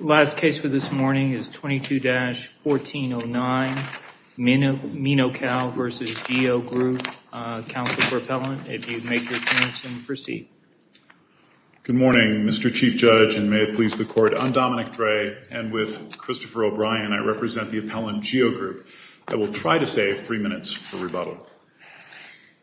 Last case for this morning is 22-1409 Minocal v. GEO Group. Counsel for Appellant, if you'd make your appearance and proceed. Good morning, Mr. Chief Judge, and may it please the Court, I'm Dominic Dre, and with Christopher O'Brien, I represent the Appellant GEO Group. I will try to save three minutes for rebuttal.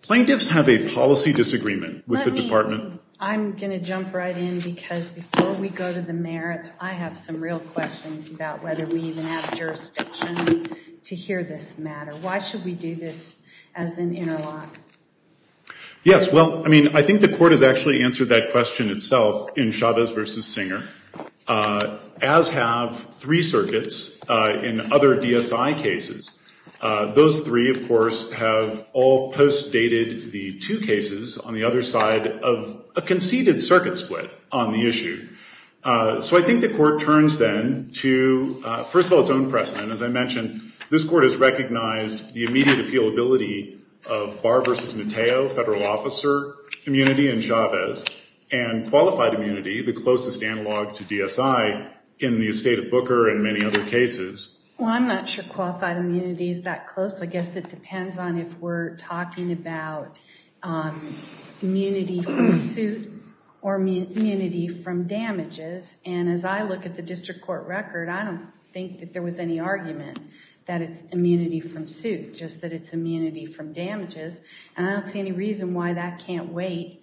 Plaintiffs have a policy disagreement with the Department. I'm going to jump right in because before we go to the merits, I have some real questions about whether we even have jurisdiction to hear this matter. Why should we do this as an interlock? Yes, well, I mean, I think the Court has actually answered that question itself in Chavez v. Singer, as have three circuits in other DSI cases. Those three, of course, have all post-dated the two cases on the other side of a conceded circuit split on the issue. So I think the Court turns then to, first of all, its own precedent. As I mentioned, this Court has recognized the immediate appealability of Barr v. Mateo, federal officer immunity in Chavez, and qualified immunity, the closest analog to DSI in the estate of Booker and many other cases. Well, I'm not sure qualified immunity is that close. I guess it depends on if we're talking about immunity from suit or immunity from damages. And as I look at the district court record, I don't think that there was any argument that it's immunity from suit, just that it's immunity from damages. And I don't see any reason why that can't wait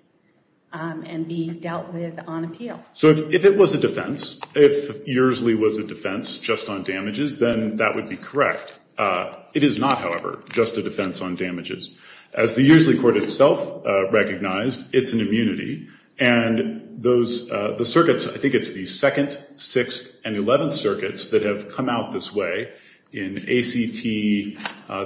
and be dealt with on appeal. So if it was a defense, if Earsley was a defense just on damages, then that would be correct. It is not, however, just a defense on damages. As the Earsley Court itself recognized, it's an immunity. And those, the circuits, I think it's the 2nd, 6th, and 11th circuits that have come out this way in ACT,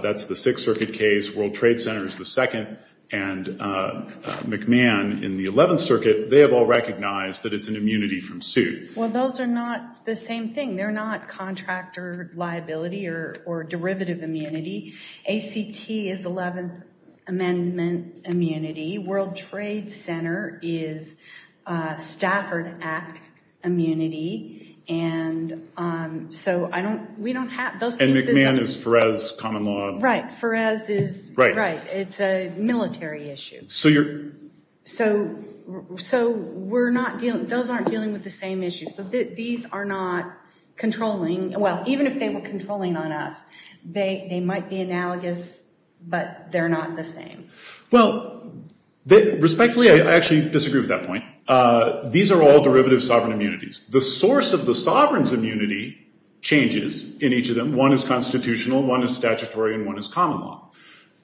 that's the 6th circuit case, World Trade Center is the 2nd, and McMahon in the 11th circuit, they have all recognized that it's an immunity from suit. Well, those are not the same thing. They're not contractor liability or derivative immunity. ACT is 11th amendment immunity. World Trade Center is Stafford Act immunity. And so I don't, we don't have, those pieces. And McMahon is Ferez common law. Right, Ferez is, right, it's a military issue. So you're. So, so we're not dealing, those aren't dealing with the same issues. So these are not controlling, well, even if they were controlling on us, they might be analogous, but they're not the same. Well, respectfully, I actually disagree with that point. These are all derivative sovereign immunities. The source of the sovereign's immunity changes in each of them. One is constitutional, one is statutory, and one is common law.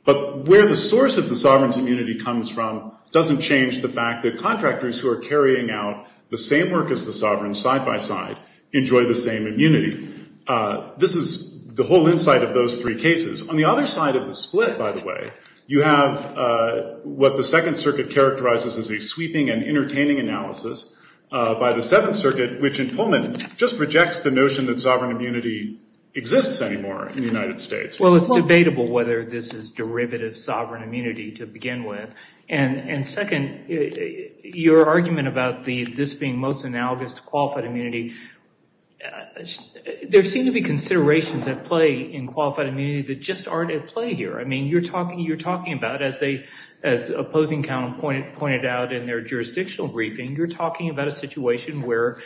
But where the source of the sovereign's immunity comes from doesn't change the fact that contractors who are carrying out the same work as the sovereign side by side enjoy the same immunity. This is the whole insight of those three cases. On the other side of the split, by the way, you have what the Second Circuit characterizes as a sweeping and entertaining analysis by the Seventh Circuit, which in Pullman just rejects the notion that sovereign immunity exists anymore in the United States. Well, it's debatable whether this is derivative sovereign immunity to begin with. And second, your argument about this being most analogous to qualified immunity, there seem to be considerations at play in qualified immunity that just aren't at play here. I mean, you're talking about, as Opposing Count pointed out in their jurisdictional briefing, you're talking about a situation where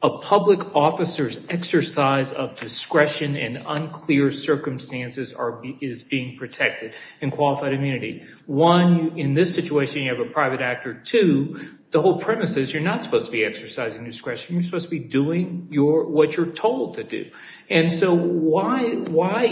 a public officer's exercise of discretion in unclear circumstances is being protected in qualified immunity. One, in this situation you have a private actor. Two, the whole premise is you're not supposed to be exercising discretion. You're supposed to be doing what you're told to do. And so why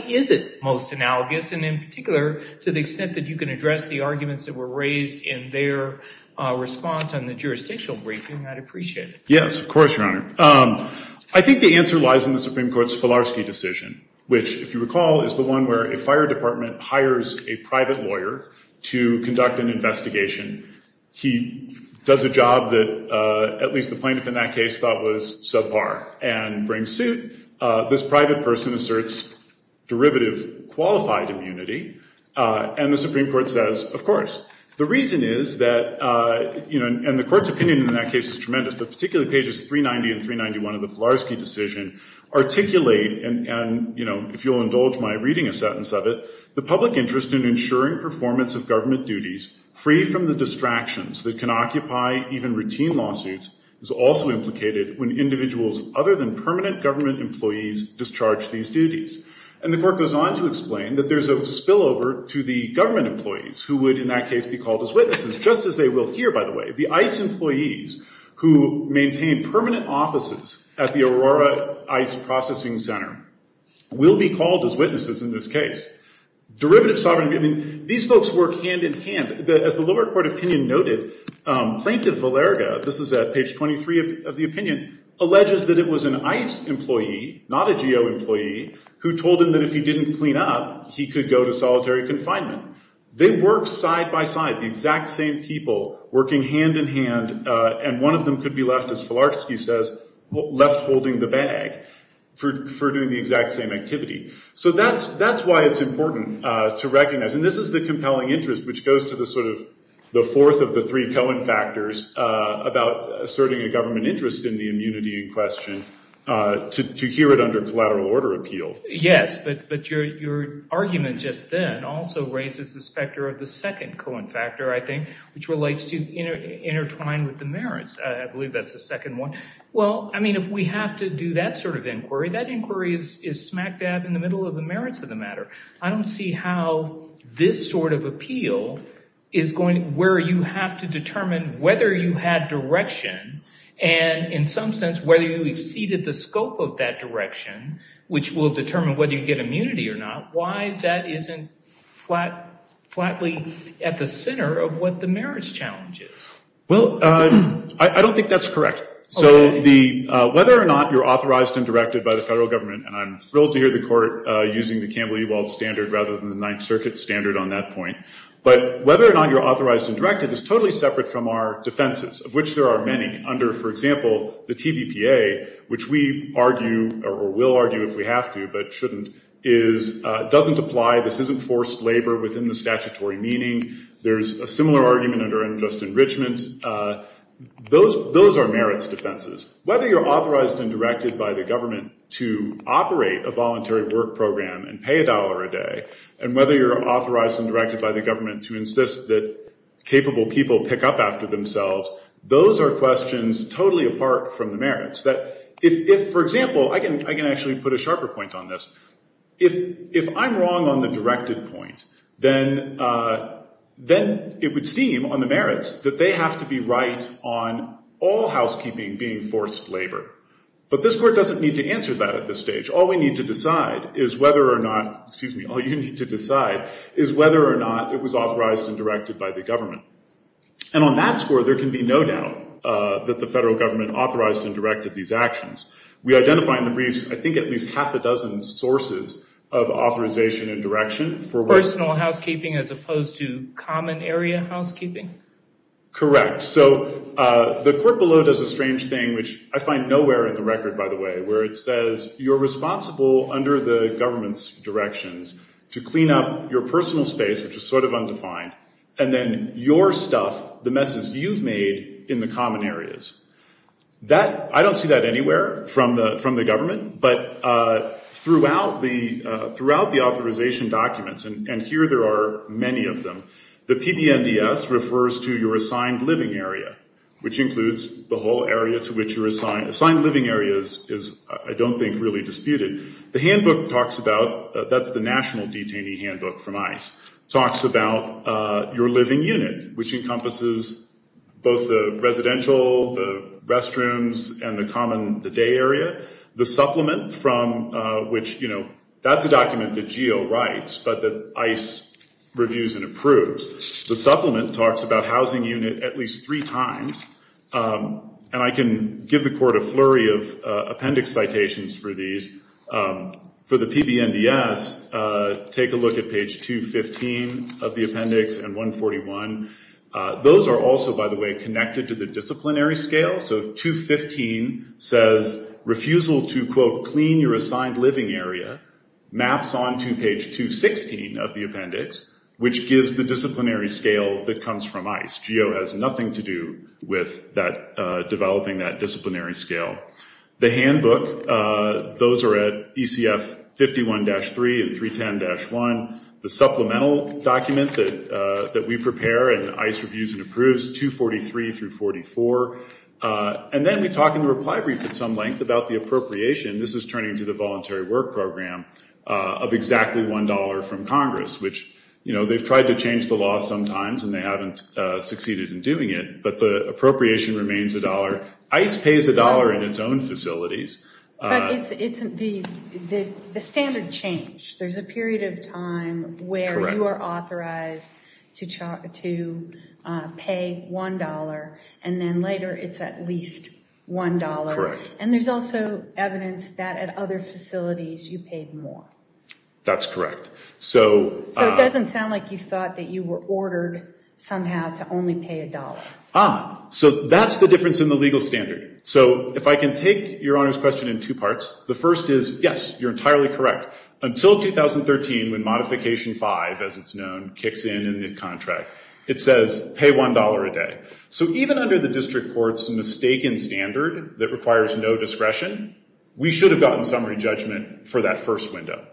is it most analogous, and in particular to the extent that you can address the arguments that were raised in their response on the jurisdictional briefing, I'd appreciate it. Yes, of course, Your Honor. I think the answer lies in the Supreme Court's Filarski decision, which, if you recall, is the one where a fire department hires a private lawyer to conduct an investigation. He does a job that at least the plaintiff in that case thought was subpar and brings suit. This private person asserts derivative qualified immunity, and the Supreme Court says, of course. The reason is that, and the Court's opinion in that case is tremendous, but particularly pages 390 and 391 of the Filarski decision articulate, and if you'll indulge my reading a sentence of it, the public interest in ensuring performance of government duties free from the distractions that can occupy even routine lawsuits is also implicated when individuals other than permanent government employees discharge these duties. And the Court goes on to explain that there's a spillover to the government employees who would in that case be called as witnesses, just as they will here, by the way. The ICE employees who maintain permanent offices at the Aurora ICE processing center will be called as witnesses in this case. Derivative sovereignty, I mean, these folks work hand-in-hand. As the lower court opinion noted, Plaintiff Valerga, this is at page 23 of the opinion, alleges that it was an ICE employee, not a GO employee, who told him that if he didn't clean up, he could go to solitary confinement. They work side-by-side, the exact same people working hand-in-hand, and one of them could be left, as Filarski says, left holding the bag for doing the exact same activity. So that's why it's important to recognize, and this is the compelling interest, which goes to the sort of the fourth of the three Cohen factors about asserting a government interest in the immunity in question, to hear it under collateral order appeal. Yes, but your argument just then also raises the specter of the second Cohen factor, I think, which relates to intertwined with the merits. I believe that's the second one. Well, I mean, if we have to do that sort of inquiry, that inquiry is smack dab in the middle of the merits of the matter. I don't see how this sort of appeal is going, where you have to determine whether you had direction, and in some sense, whether you exceeded the scope of that direction, which will determine whether you get immunity or not, why that isn't flatly at the center of what the merits challenge is. Well, I don't think that's correct. So the, whether or not you're authorized and directed by the federal government, and I'm thrilled to hear the court using the Campbell-Ewald standard rather than the Ninth Circuit standard on that point, but whether or not you're authorized and directed is totally separate from our defenses, of which there are many under, for example, the TVPA, which we argue, or will argue if we have to, but shouldn't, is, doesn't apply, this isn't forced labor within the statutory meaning. There's a similar argument under unjust enrichment. Those are merits defenses. Whether you're authorized and directed by the government to operate a voluntary work program and pay a dollar a day, and whether you're authorized and directed by the government to insist that capable people pick up after themselves, those are questions totally apart from the merits. That if, for example, I can actually put a sharper point on this. If I'm wrong on the directed point, then it would seem on the merits that they have to be right on all housekeeping being forced labor. But this court doesn't need to answer that at this stage. All we need to decide is whether or not, excuse me, all you need to decide is whether or not it was authorized and directed by the government. And on that score, there can be no doubt that the federal government authorized and directed these actions. We identify in the briefs, I think at least half a dozen sources of authorization and direction for personal housekeeping as opposed to common area housekeeping. Correct. So the court below does a strange thing, which I find nowhere in the record, by the way, where it says you're responsible under the government's directions to clean up your personal space, which is sort of undefined, and then your stuff, the messes you've made in the common areas. I don't see that anywhere from the government, but throughout the authorization documents, and here there are many of them, the PBNDS refers to your assigned living area, which includes the whole area to which you're assigned. Assigned living areas is, I don't think, really disputed. The handbook talks about, that's the national detainee handbook from ICE, talks about your living unit, which encompasses both the residential, the restrooms, and the common, the day area. The supplement from which, you know, that's a document that GEO writes, but that ICE reviews and approves. The supplement talks about housing unit at least three times, and I can give the court a flurry of appendix citations for these. For the PBNDS, take a look at page 215 of the appendix and 141. Those are also, by the way, connected to the disciplinary scale, so 215 says refusal to, quote, clean your assigned living area, maps onto page 216 of the appendix, which gives the disciplinary scale that comes from ICE. GEO has nothing to do with developing that disciplinary scale. The handbook, those are at ECF 51-3 and 310-1. The supplemental document that we prepare and ICE reviews and approves, 243 through 44, and then we talk in the reply brief at some length about the appropriation. This is turning to the Voluntary Work Program of exactly $1 from Congress, which, you know, they've tried to change the law sometimes, and they haven't succeeded in doing it, but the appropriation remains $1. ICE pays $1 in its own facilities. But it's the standard change. There's a period of time where you are authorized to pay $1, and then later it's at least $1. Correct. And there's also evidence that at other facilities you paid more. That's correct. So it doesn't sound like you thought that you were ordered somehow to only pay $1. So that's the difference in the legal standard. So if I can take Your Honor's question in two parts, the first is, yes, you're entirely correct. Until 2013, when Modification 5, as it's known, kicks in in the contract, it says pay $1 a day. So even under the district court's mistaken standard that requires no discretion, we should have gotten summary judgment for that first window.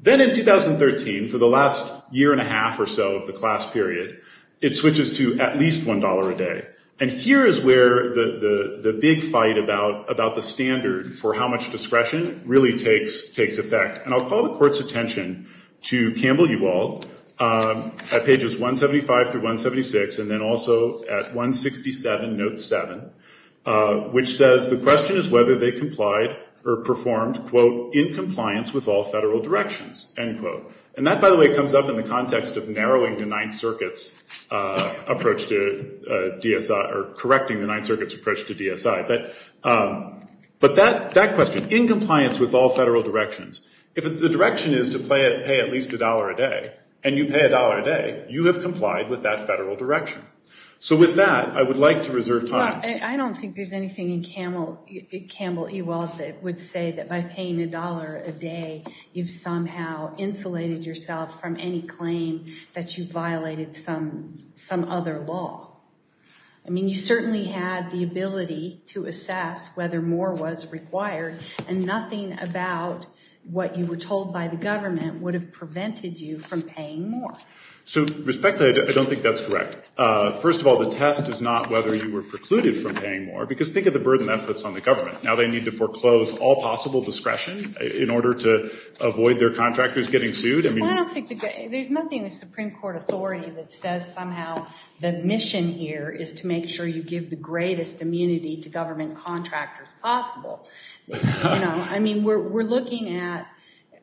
Then in 2013, for the last year and a half or so of the class period, it switches to at least $1 a day. And here is where the big fight about the standard for how much discretion really takes effect. And I'll call the Court's attention to Campbell-Uwald at pages 175 through 176, and then also at 167, note 7, which says the question is whether they complied or performed, quote, in compliance with all federal directions, end quote. And that, by the way, comes up in the context of narrowing the Ninth Circuit's approach to DSI or correcting the Ninth Circuit's approach to DSI. But that question, in compliance with all federal directions, if the direction is to pay at least $1 a day, and you pay $1 a day, you have complied with that federal direction. So with that, I would like to reserve time. I don't think there's anything in Campbell-Uwald that would say that by paying $1 a day, you've somehow insulated yourself from any claim that you violated some other law. I mean, you certainly had the ability to assess whether more was required, and nothing about what you were told by the government would have prevented you from paying more. So, respectfully, I don't think that's correct. First of all, the test is not whether you were precluded from paying more, because think of the burden that puts on the government. Now they need to foreclose all possible discretion in order to avoid their contractors getting sued? There's nothing in the Supreme Court authority that says somehow the mission here is to make sure you give the greatest immunity to government contractors possible. I mean, we're looking at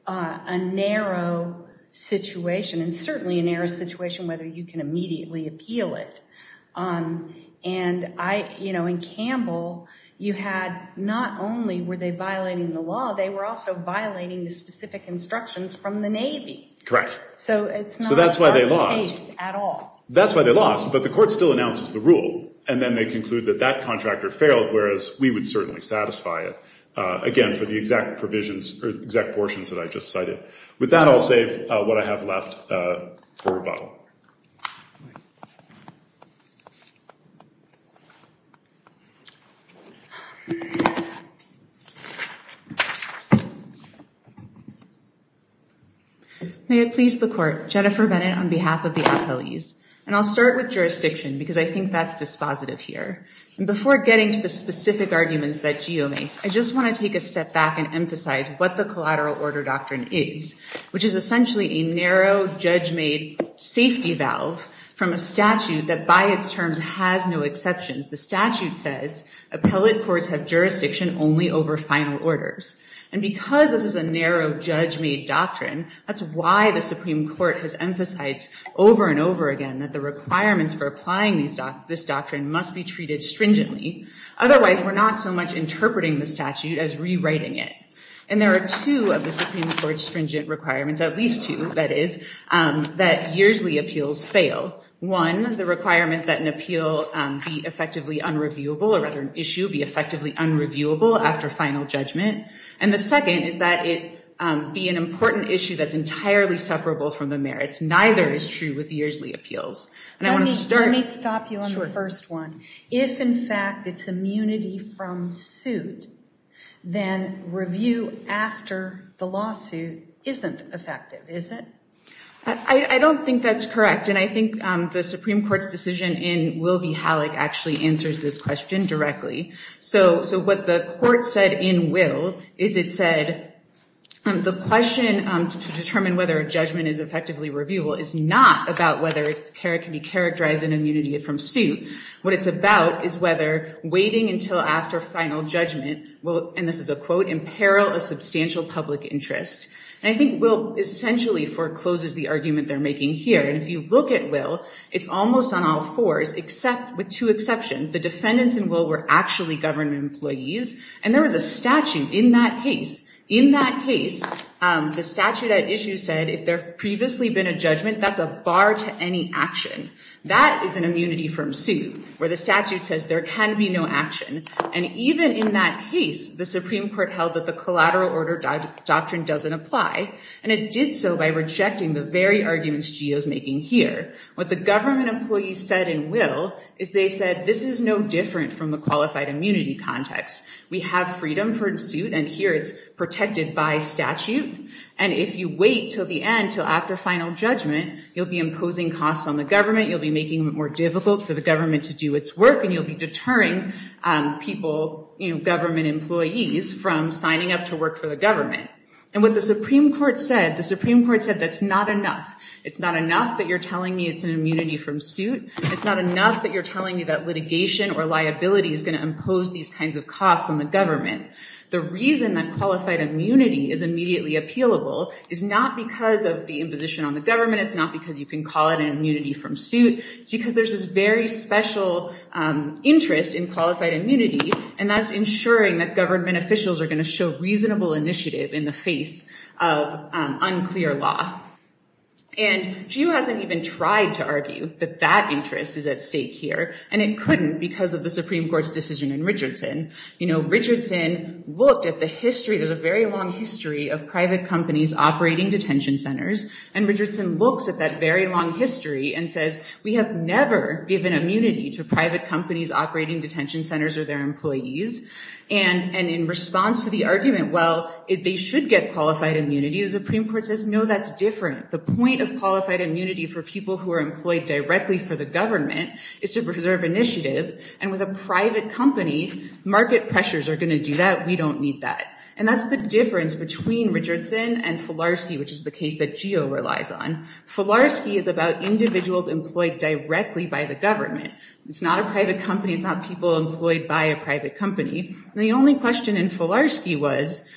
a narrow situation, and certainly a narrow situation whether you can immediately appeal it. And in Campbell, you had not only were they violating the law, they were also violating the specific instructions from the Navy. Correct. So it's not our case at all. So that's why they lost. That's why they lost. But the court still announces the rule, and then they conclude that that contractor failed, whereas we would certainly satisfy it, again, for the exact provisions or exact portions that I just cited. With that, I'll save what I have left for rebuttal. May it please the court, Jennifer Bennett on behalf of the appellees. And I'll start with jurisdiction, because I think that's dispositive here. And before getting to the specific arguments that Geo makes, I just want to take a step back and emphasize what the collateral order doctrine is, which is essentially a narrow, judge-made safety valve from a statute that by its terms has no exceptions. The statute says appellate courts have jurisdiction only over final orders. And because this is a narrow, judge-made doctrine, that's why the Supreme Court has emphasized over and over again that the requirements for applying this doctrine must be treated stringently. Otherwise, we're not so much interpreting the statute as rewriting it. And there are two of the Supreme Court's stringent requirements, at least two, that is, that yearsly appeals fail. One, the requirement that an appeal be effectively unreviewable, or rather an issue be effectively unreviewable after final judgment. And the second is that it be an important issue that's entirely separable from the merits. Neither is true with yearsly appeals. And I want to start- Let me stop you on the first one. If, in fact, it's immunity from suit, then review after the lawsuit isn't effective, is it? I don't think that's correct. And I think the Supreme Court's decision in Will v. Halleck actually answers this question directly. So what the court said in Will is it said the question to determine whether a judgment is effectively reviewable is not about whether it can be characterized in immunity from suit. What it's about is whether waiting until after final judgment will, and this is a quote, imperil a substantial public interest. And I think Will essentially forecloses the argument they're making here. And if you look at Will, it's almost on all fours, with two exceptions. The defendants in Will were actually government employees. And there was a statute in that case. In that case, the statute at issue said if there had previously been a judgment, that's a bar to any action. That is an immunity from suit, where the statute says there can be no action. And even in that case, the Supreme Court held that the collateral order doctrine doesn't apply. And it did so by rejecting the very arguments Geo's making here. What the government employees said in Will is they said this is no different from the qualified immunity context. We have freedom from suit, and here it's protected by statute. And if you wait till the end, till after final judgment, you'll be imposing costs on the government. You'll be making it more difficult for the government to do its work. And you'll be deterring people, you know, government employees from signing up to work for the government. And what the Supreme Court said, the Supreme Court said that's not enough. It's not enough that you're telling me it's an immunity from suit. It's not enough that you're telling me that litigation or liability is going to impose these kinds of costs on the government. The reason that qualified immunity is immediately appealable is not because of the imposition on the government. It's not because you can call it an immunity from suit. It's because there's this very special interest in qualified immunity, and that's ensuring that government officials are going to show reasonable initiative in the face of unclear law. And she hasn't even tried to argue that that interest is at stake here, and it couldn't because of the Supreme Court's decision in Richardson. You know, Richardson looked at the history. There's a very long history of private companies operating detention centers, and Richardson looks at that very long history and says, we have never given immunity to private companies operating detention centers or their employees. And in response to the argument, well, they should get qualified immunity, the Supreme Court says, no, that's different. The point of qualified immunity for people who are employed directly for the government is to preserve initiative. And with a private company, market pressures are going to do that. We don't need that. And that's the difference between Richardson and Filarski, which is the case that GEO relies on. Filarski is about individuals employed directly by the government. It's not a private company. It's not people employed by a private company. And the only question in Filarski was,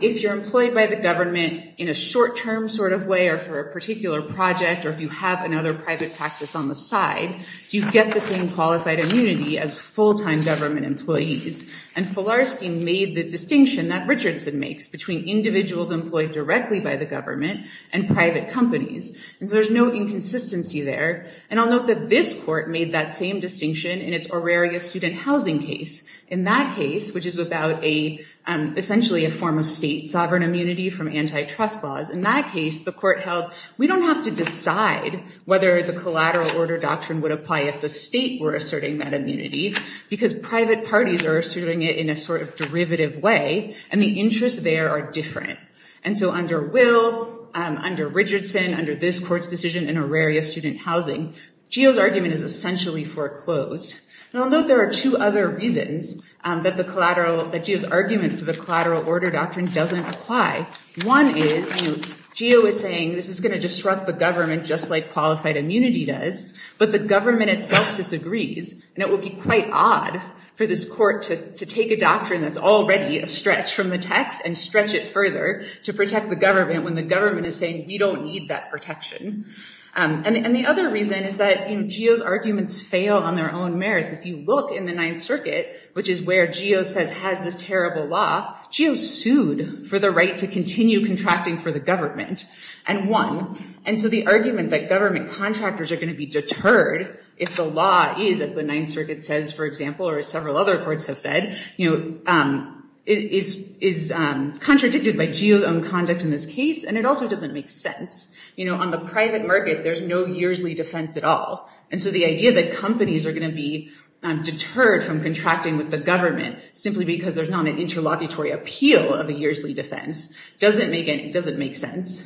if you're employed by the government in a short-term sort of way or for a particular project, or if you have another private practice on the side, do you get the same qualified immunity as full-time government employees? And Filarski made the distinction that Richardson makes between individuals employed directly by the government and private companies. And so there's no inconsistency there. And I'll note that this court made that same distinction in its Auraria student housing case. In that case, which is about essentially a form of state sovereign immunity from antitrust laws, in that case, the court held, we don't have to decide whether the collateral order doctrine would apply if the state were asserting that immunity, because private parties are asserting it in a sort of derivative way, and the interests there are different. And so under Will, under Richardson, under this court's decision in Auraria student housing, GEO's argument is essentially foreclosed. And I'll note there are two other reasons that the collateral, that GEO's argument for the collateral order doctrine doesn't apply. One is, you know, GEO is saying this is going to disrupt the government just like qualified immunity does, but the government itself disagrees. And it would be quite odd for this court to take a doctrine that's already a stretch from the text and stretch it further to protect the government when the government is saying we don't need that protection. And the other reason is that, you know, GEO's arguments fail on their own merits. If you look in the Ninth Circuit, which is where GEO says has this terrible law, GEO sued for the right to continue contracting for the government and won. And so the argument that government contractors are going to be deterred if the law is, as the Ninth Circuit says, for example, or as several other courts have said, you know, is contradicted by GEO's own conduct in this case. And it also doesn't make sense. You know, on the private market, there's no yearsly defense at all. And so the idea that companies are going to be deterred from contracting with the government simply because there's not an interlocutory appeal of a yearsly defense doesn't make sense.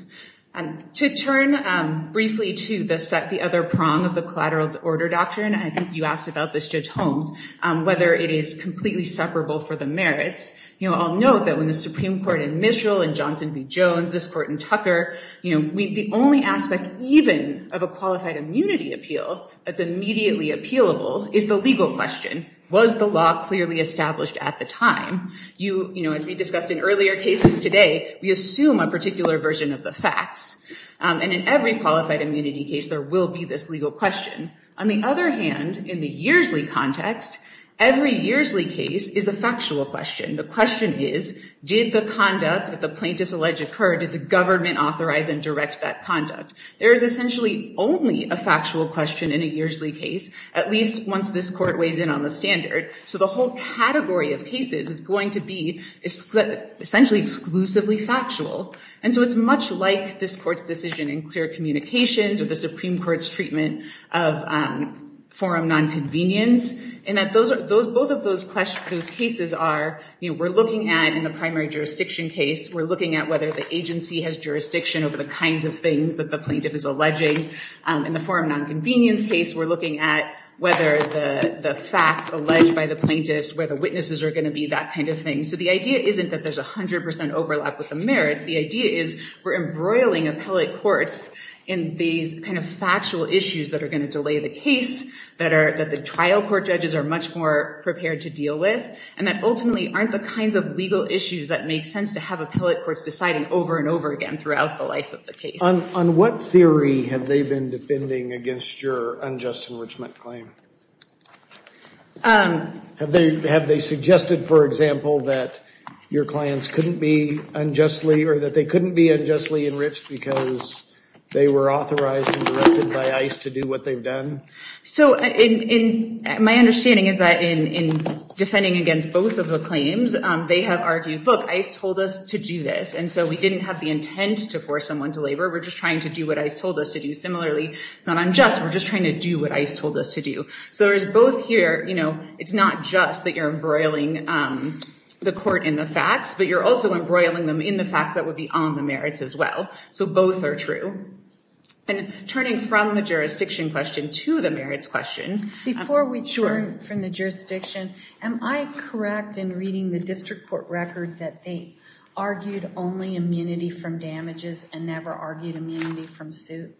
To turn briefly to the other prong of the collateral order doctrine, I think you asked about this, Judge Holmes, whether it is completely separable for the merits. You know, I'll note that when the Supreme Court in Mitchell and Johnson v. Jones, this court in Tucker, you know, the only aspect even of a qualified immunity appeal that's immediately appealable is the legal question. Was the law clearly established at the time? You know, as we discussed in earlier cases today, we assume a particular version of the facts. And in every qualified immunity case, there will be this legal question. On the other hand, in the yearsly context, every yearsly case is a factual question. The question is, did the conduct that the plaintiffs allege occur, did the government authorize and direct that conduct? There is essentially only a factual question in a yearsly case, at least once this court weighs in on the standard. So the whole category of cases is going to be essentially exclusively factual. And so it's much like this court's decision in clear communications or the Supreme Court's treatment of forum nonconvenience, in that both of those cases are, you know, we're looking at in the primary jurisdiction case, we're looking at whether the agency has jurisdiction over the kinds of things that the plaintiff is alleging. In the forum nonconvenience case, we're looking at whether the facts alleged by the plaintiffs, whether witnesses are going to be that kind of thing. So the idea isn't that there's 100% overlap with the merits. The idea is we're embroiling appellate courts in these kind of factual issues that are going to delay the case, that the trial court judges are much more prepared to deal with, and that ultimately aren't the kinds of legal issues that make sense to have appellate courts deciding over and over again throughout the life of the case. On what theory have they been defending against your unjust enrichment claim? Have they suggested, for example, that your clients couldn't be unjustly or that they couldn't be unjustly enriched because they were authorized and directed by ICE to do what they've done? So my understanding is that in defending against both of the claims, they have argued, look, ICE told us to do this, and so we didn't have the intent to force someone to labor. We're just trying to do what ICE told us to do. Similarly, it's not unjust. We're just trying to do what ICE told us to do. So there's both here. You know, it's not just that you're embroiling the court in the facts, but you're also embroiling them in the facts that would be on the merits as well. So both are true. And turning from the jurisdiction question to the merits question. Before we turn from the jurisdiction, am I correct in reading the district court record that they argued only immunity from damages and never argued immunity from suit?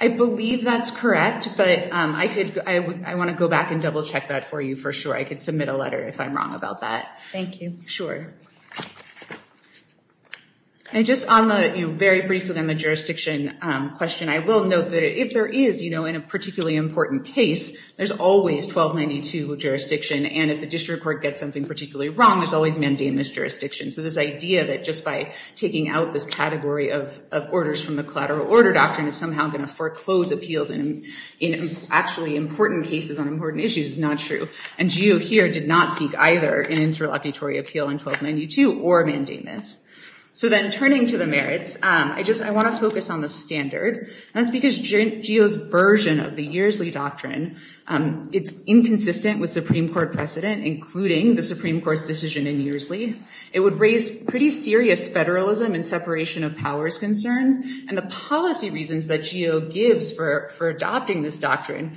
I believe that's correct, but I want to go back and double check that for you for sure. I could submit a letter if I'm wrong about that. Thank you. Sure. And just on the, you know, very briefly on the jurisdiction question, I will note that if there is, you know, in a particularly important case, there's always 1292 jurisdiction, and if the district court gets something particularly wrong, there's always mandamus jurisdiction. So this idea that just by taking out this category of orders from the collateral order doctrine is somehow going to foreclose appeals in actually important cases on important issues is not true. And GEO here did not seek either an interlocutory appeal in 1292 or mandamus. So then turning to the merits, I just, I want to focus on the standard. And that's because GEO's version of the Yearsley Doctrine, it's inconsistent with Supreme Court precedent, including the Supreme Court's decision in Yearsley. It would raise pretty serious federalism and separation of powers concern. And the policy reasons that GEO gives for adopting this doctrine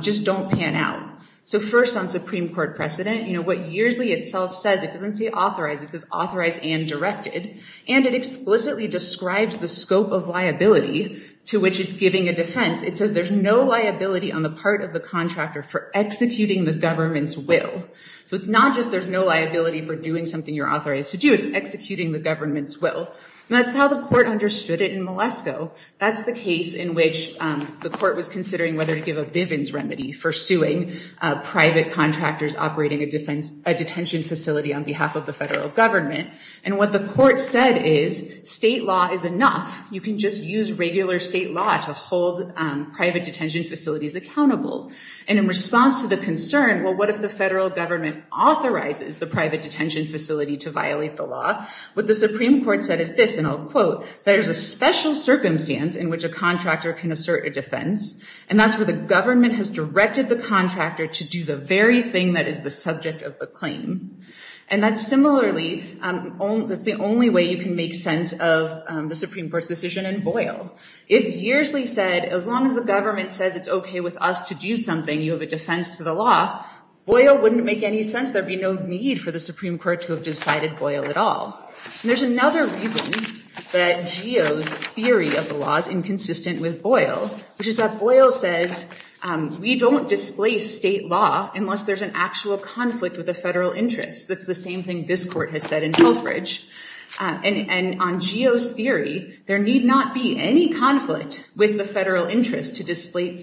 just don't pan out. So first on Supreme Court precedent, you know, what Yearsley itself says, it doesn't say authorized. It says authorized and directed. And it explicitly describes the scope of liability to which it's giving a defense. It says there's no liability on the part of the contractor for executing the government's will. So it's not just there's no liability for doing something you're authorized to do. It's executing the government's will. And that's how the court understood it in Malesko. That's the case in which the court was considering whether to give a Bivens remedy for suing private contractors operating a defense, a detention facility on behalf of the federal government. And what the court said is state law is enough. You can just use regular state law to hold private detention facilities accountable. And in response to the concern, well, what if the federal government authorizes the private detention facility to violate the law? What the Supreme Court said is this, and I'll quote, there's a special circumstance in which a contractor can assert a defense. And that's where the government has directed the contractor to do the very thing that is the subject of the claim. And that's similarly, that's the only way you can make sense of the Supreme Court's decision in Boyle. If Yearsley said as long as the government says it's OK with us to do something, you have a defense to the law, Boyle wouldn't make any sense. There'd be no need for the Supreme Court to have decided Boyle at all. And there's another reason that Geo's theory of the law is inconsistent with Boyle, which is that Boyle says we don't displace state law unless there's an actual conflict with the federal interest. That's the same thing this court has said in Telfridge. And on Geo's theory, there need not be any conflict with the federal interest to displace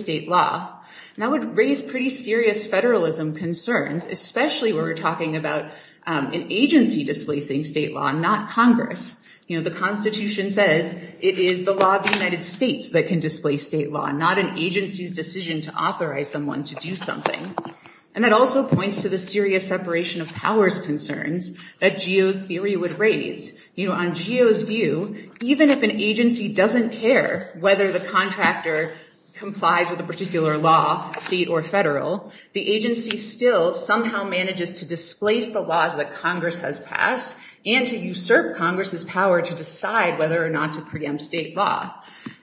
state law. And that would raise pretty serious federalism concerns, especially when we're talking about an agency displacing state law, not Congress. You know, the Constitution says it is the law of the United States that can displace state law, not an agency's decision to authorize someone to do something. And that also points to the serious separation of powers concerns that Geo's theory would raise. You know, on Geo's view, even if an agency doesn't care whether the contractor complies with a particular law, state or federal, the agency still somehow manages to displace the laws that Congress has passed and to usurp Congress's power to decide whether or not to preempt state law.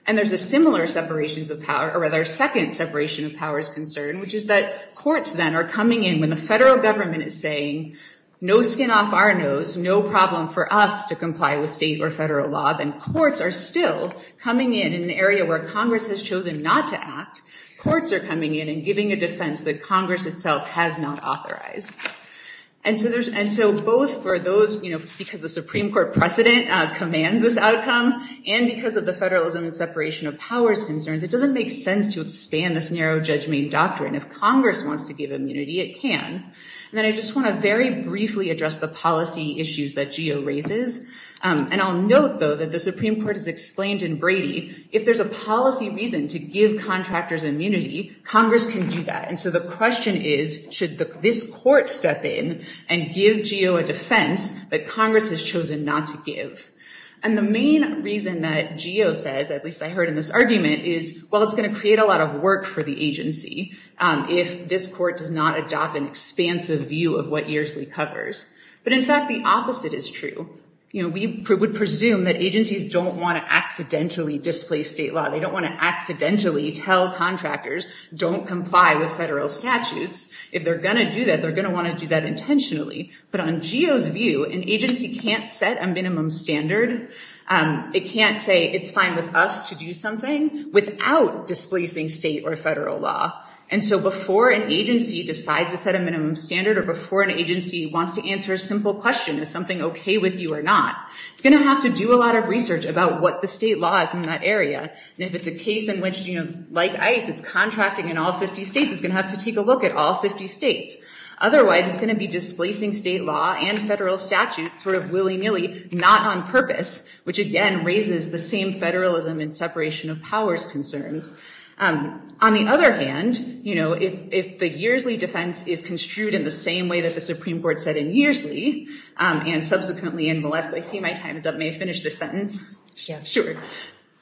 And there's a similar separation of power, or rather a second separation of powers concern, which is that courts then are coming in when the federal government is saying, no skin off our nose, no problem for us to comply with state or federal law, then courts are still coming in an area where Congress has chosen not to act. Courts are coming in and giving a defense that Congress itself has not authorized. And so both for those, you know, because the Supreme Court precedent commands this outcome, and because of the federalism and separation of powers concerns, it doesn't make sense to expand this narrow judgment doctrine. If Congress wants to give immunity, it can. And then I just want to very briefly address the policy issues that Geo raises. And I'll note, though, that the Supreme Court has explained in Brady, if there's a policy reason to give contractors immunity, Congress can do that. And so the question is, should this court step in and give Geo a defense that Congress has chosen not to give? And the main reason that Geo says, at least I heard in this argument, is, well, it's going to create a lot of work for the agency if this court does not adopt an expansive view of what Earsley covers. But, in fact, the opposite is true. You know, we would presume that agencies don't want to accidentally displace state law. They don't want to accidentally tell contractors, don't comply with federal statutes. If they're going to do that, they're going to want to do that intentionally. But on Geo's view, an agency can't set a minimum standard. It can't say, it's fine with us to do something without displacing state or federal law. And so before an agency decides to set a minimum standard or before an agency wants to answer a simple question, is something OK with you or not, it's going to have to do a lot of research about what the state law is in that area. And if it's a case in which, like ICE, it's contracting in all 50 states, it's going to have to take a look at all 50 states. Otherwise, it's going to be displacing state law and federal statutes sort of willy-nilly, not on purpose, which again raises the same federalism and separation of powers concerns. On the other hand, you know, if the Yearsley defense is construed in the same way that the Supreme Court said in Yearsley, and subsequently in Valeska, I see my time is up, may I finish this sentence? Sure.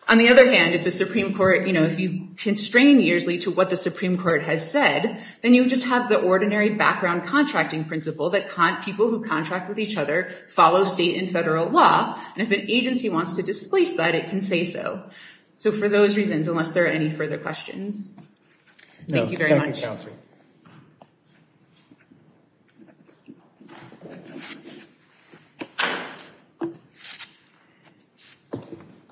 On the other hand, if the Supreme Court, you know, if you constrain Yearsley to what the Supreme Court has said, then you just have the ordinary background contracting principle that people who contract with each other follow state and federal law. And if an agency wants to displace that, it can say so. So for those reasons, unless there are any further questions. Thank you very much.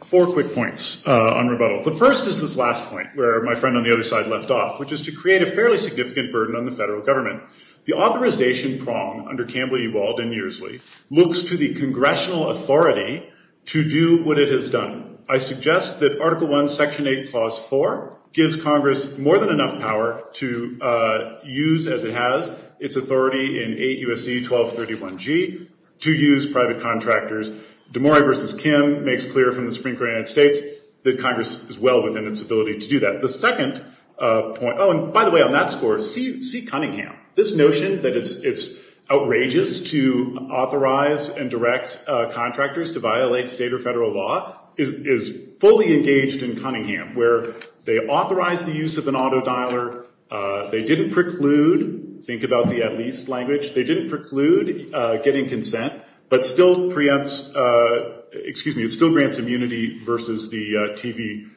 Four quick points on rebuttal. The first is this last point where my friend on the other side left off, which is to create a fairly significant burden on the federal government. The authorization prong under Campbell v. Ewald in Yearsley looks to the congressional authority to do what it has done. I suggest that Article I, Section 8, Clause 4 gives Congress more than enough power to use as it has its authority in 8 U.S.C. 1231G to use private contractors. DeMori v. Kim makes clear from the Supreme Court of the United States that Congress is well within its ability to do that. The second point, oh, and by the way, on that score, see Cunningham. This notion that it's outrageous to authorize and direct contractors to violate state or federal law is fully engaged in Cunningham, where they authorized the use of an auto dialer. They didn't preclude, think about the at least language, they didn't preclude getting consent, but still grants immunity versus the TV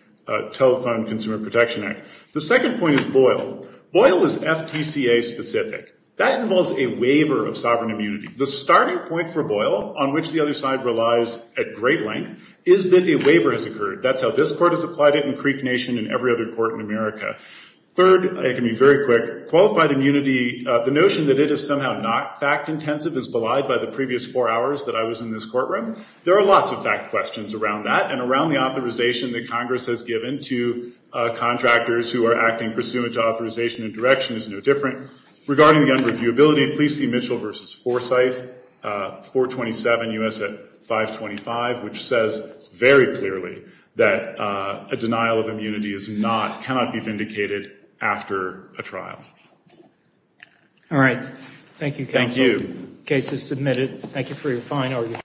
Telephone Consumer Protection Act. The second point is Boyle. Boyle is FTCA specific. That involves a waiver of sovereign immunity. The starting point for Boyle, on which the other side relies at great length, is that a waiver has occurred. That's how this court has applied it in Creek Nation and every other court in America. Third, it can be very quick, qualified immunity, the notion that it is somehow not fact-intensive as belied by the previous four hours that I was in this courtroom. There are lots of fact questions around that and around the authorization that Congress has given to contractors who are acting pursuant to authorization and direction is no different. Regarding the unreviewability, please see Mitchell v. Forsyth, 427 U.S. at 525, which says very clearly that a denial of immunity is not, cannot be vindicated after a trial. All right. Thank you, counsel. Thank you. The case is submitted. Thank you for your fine.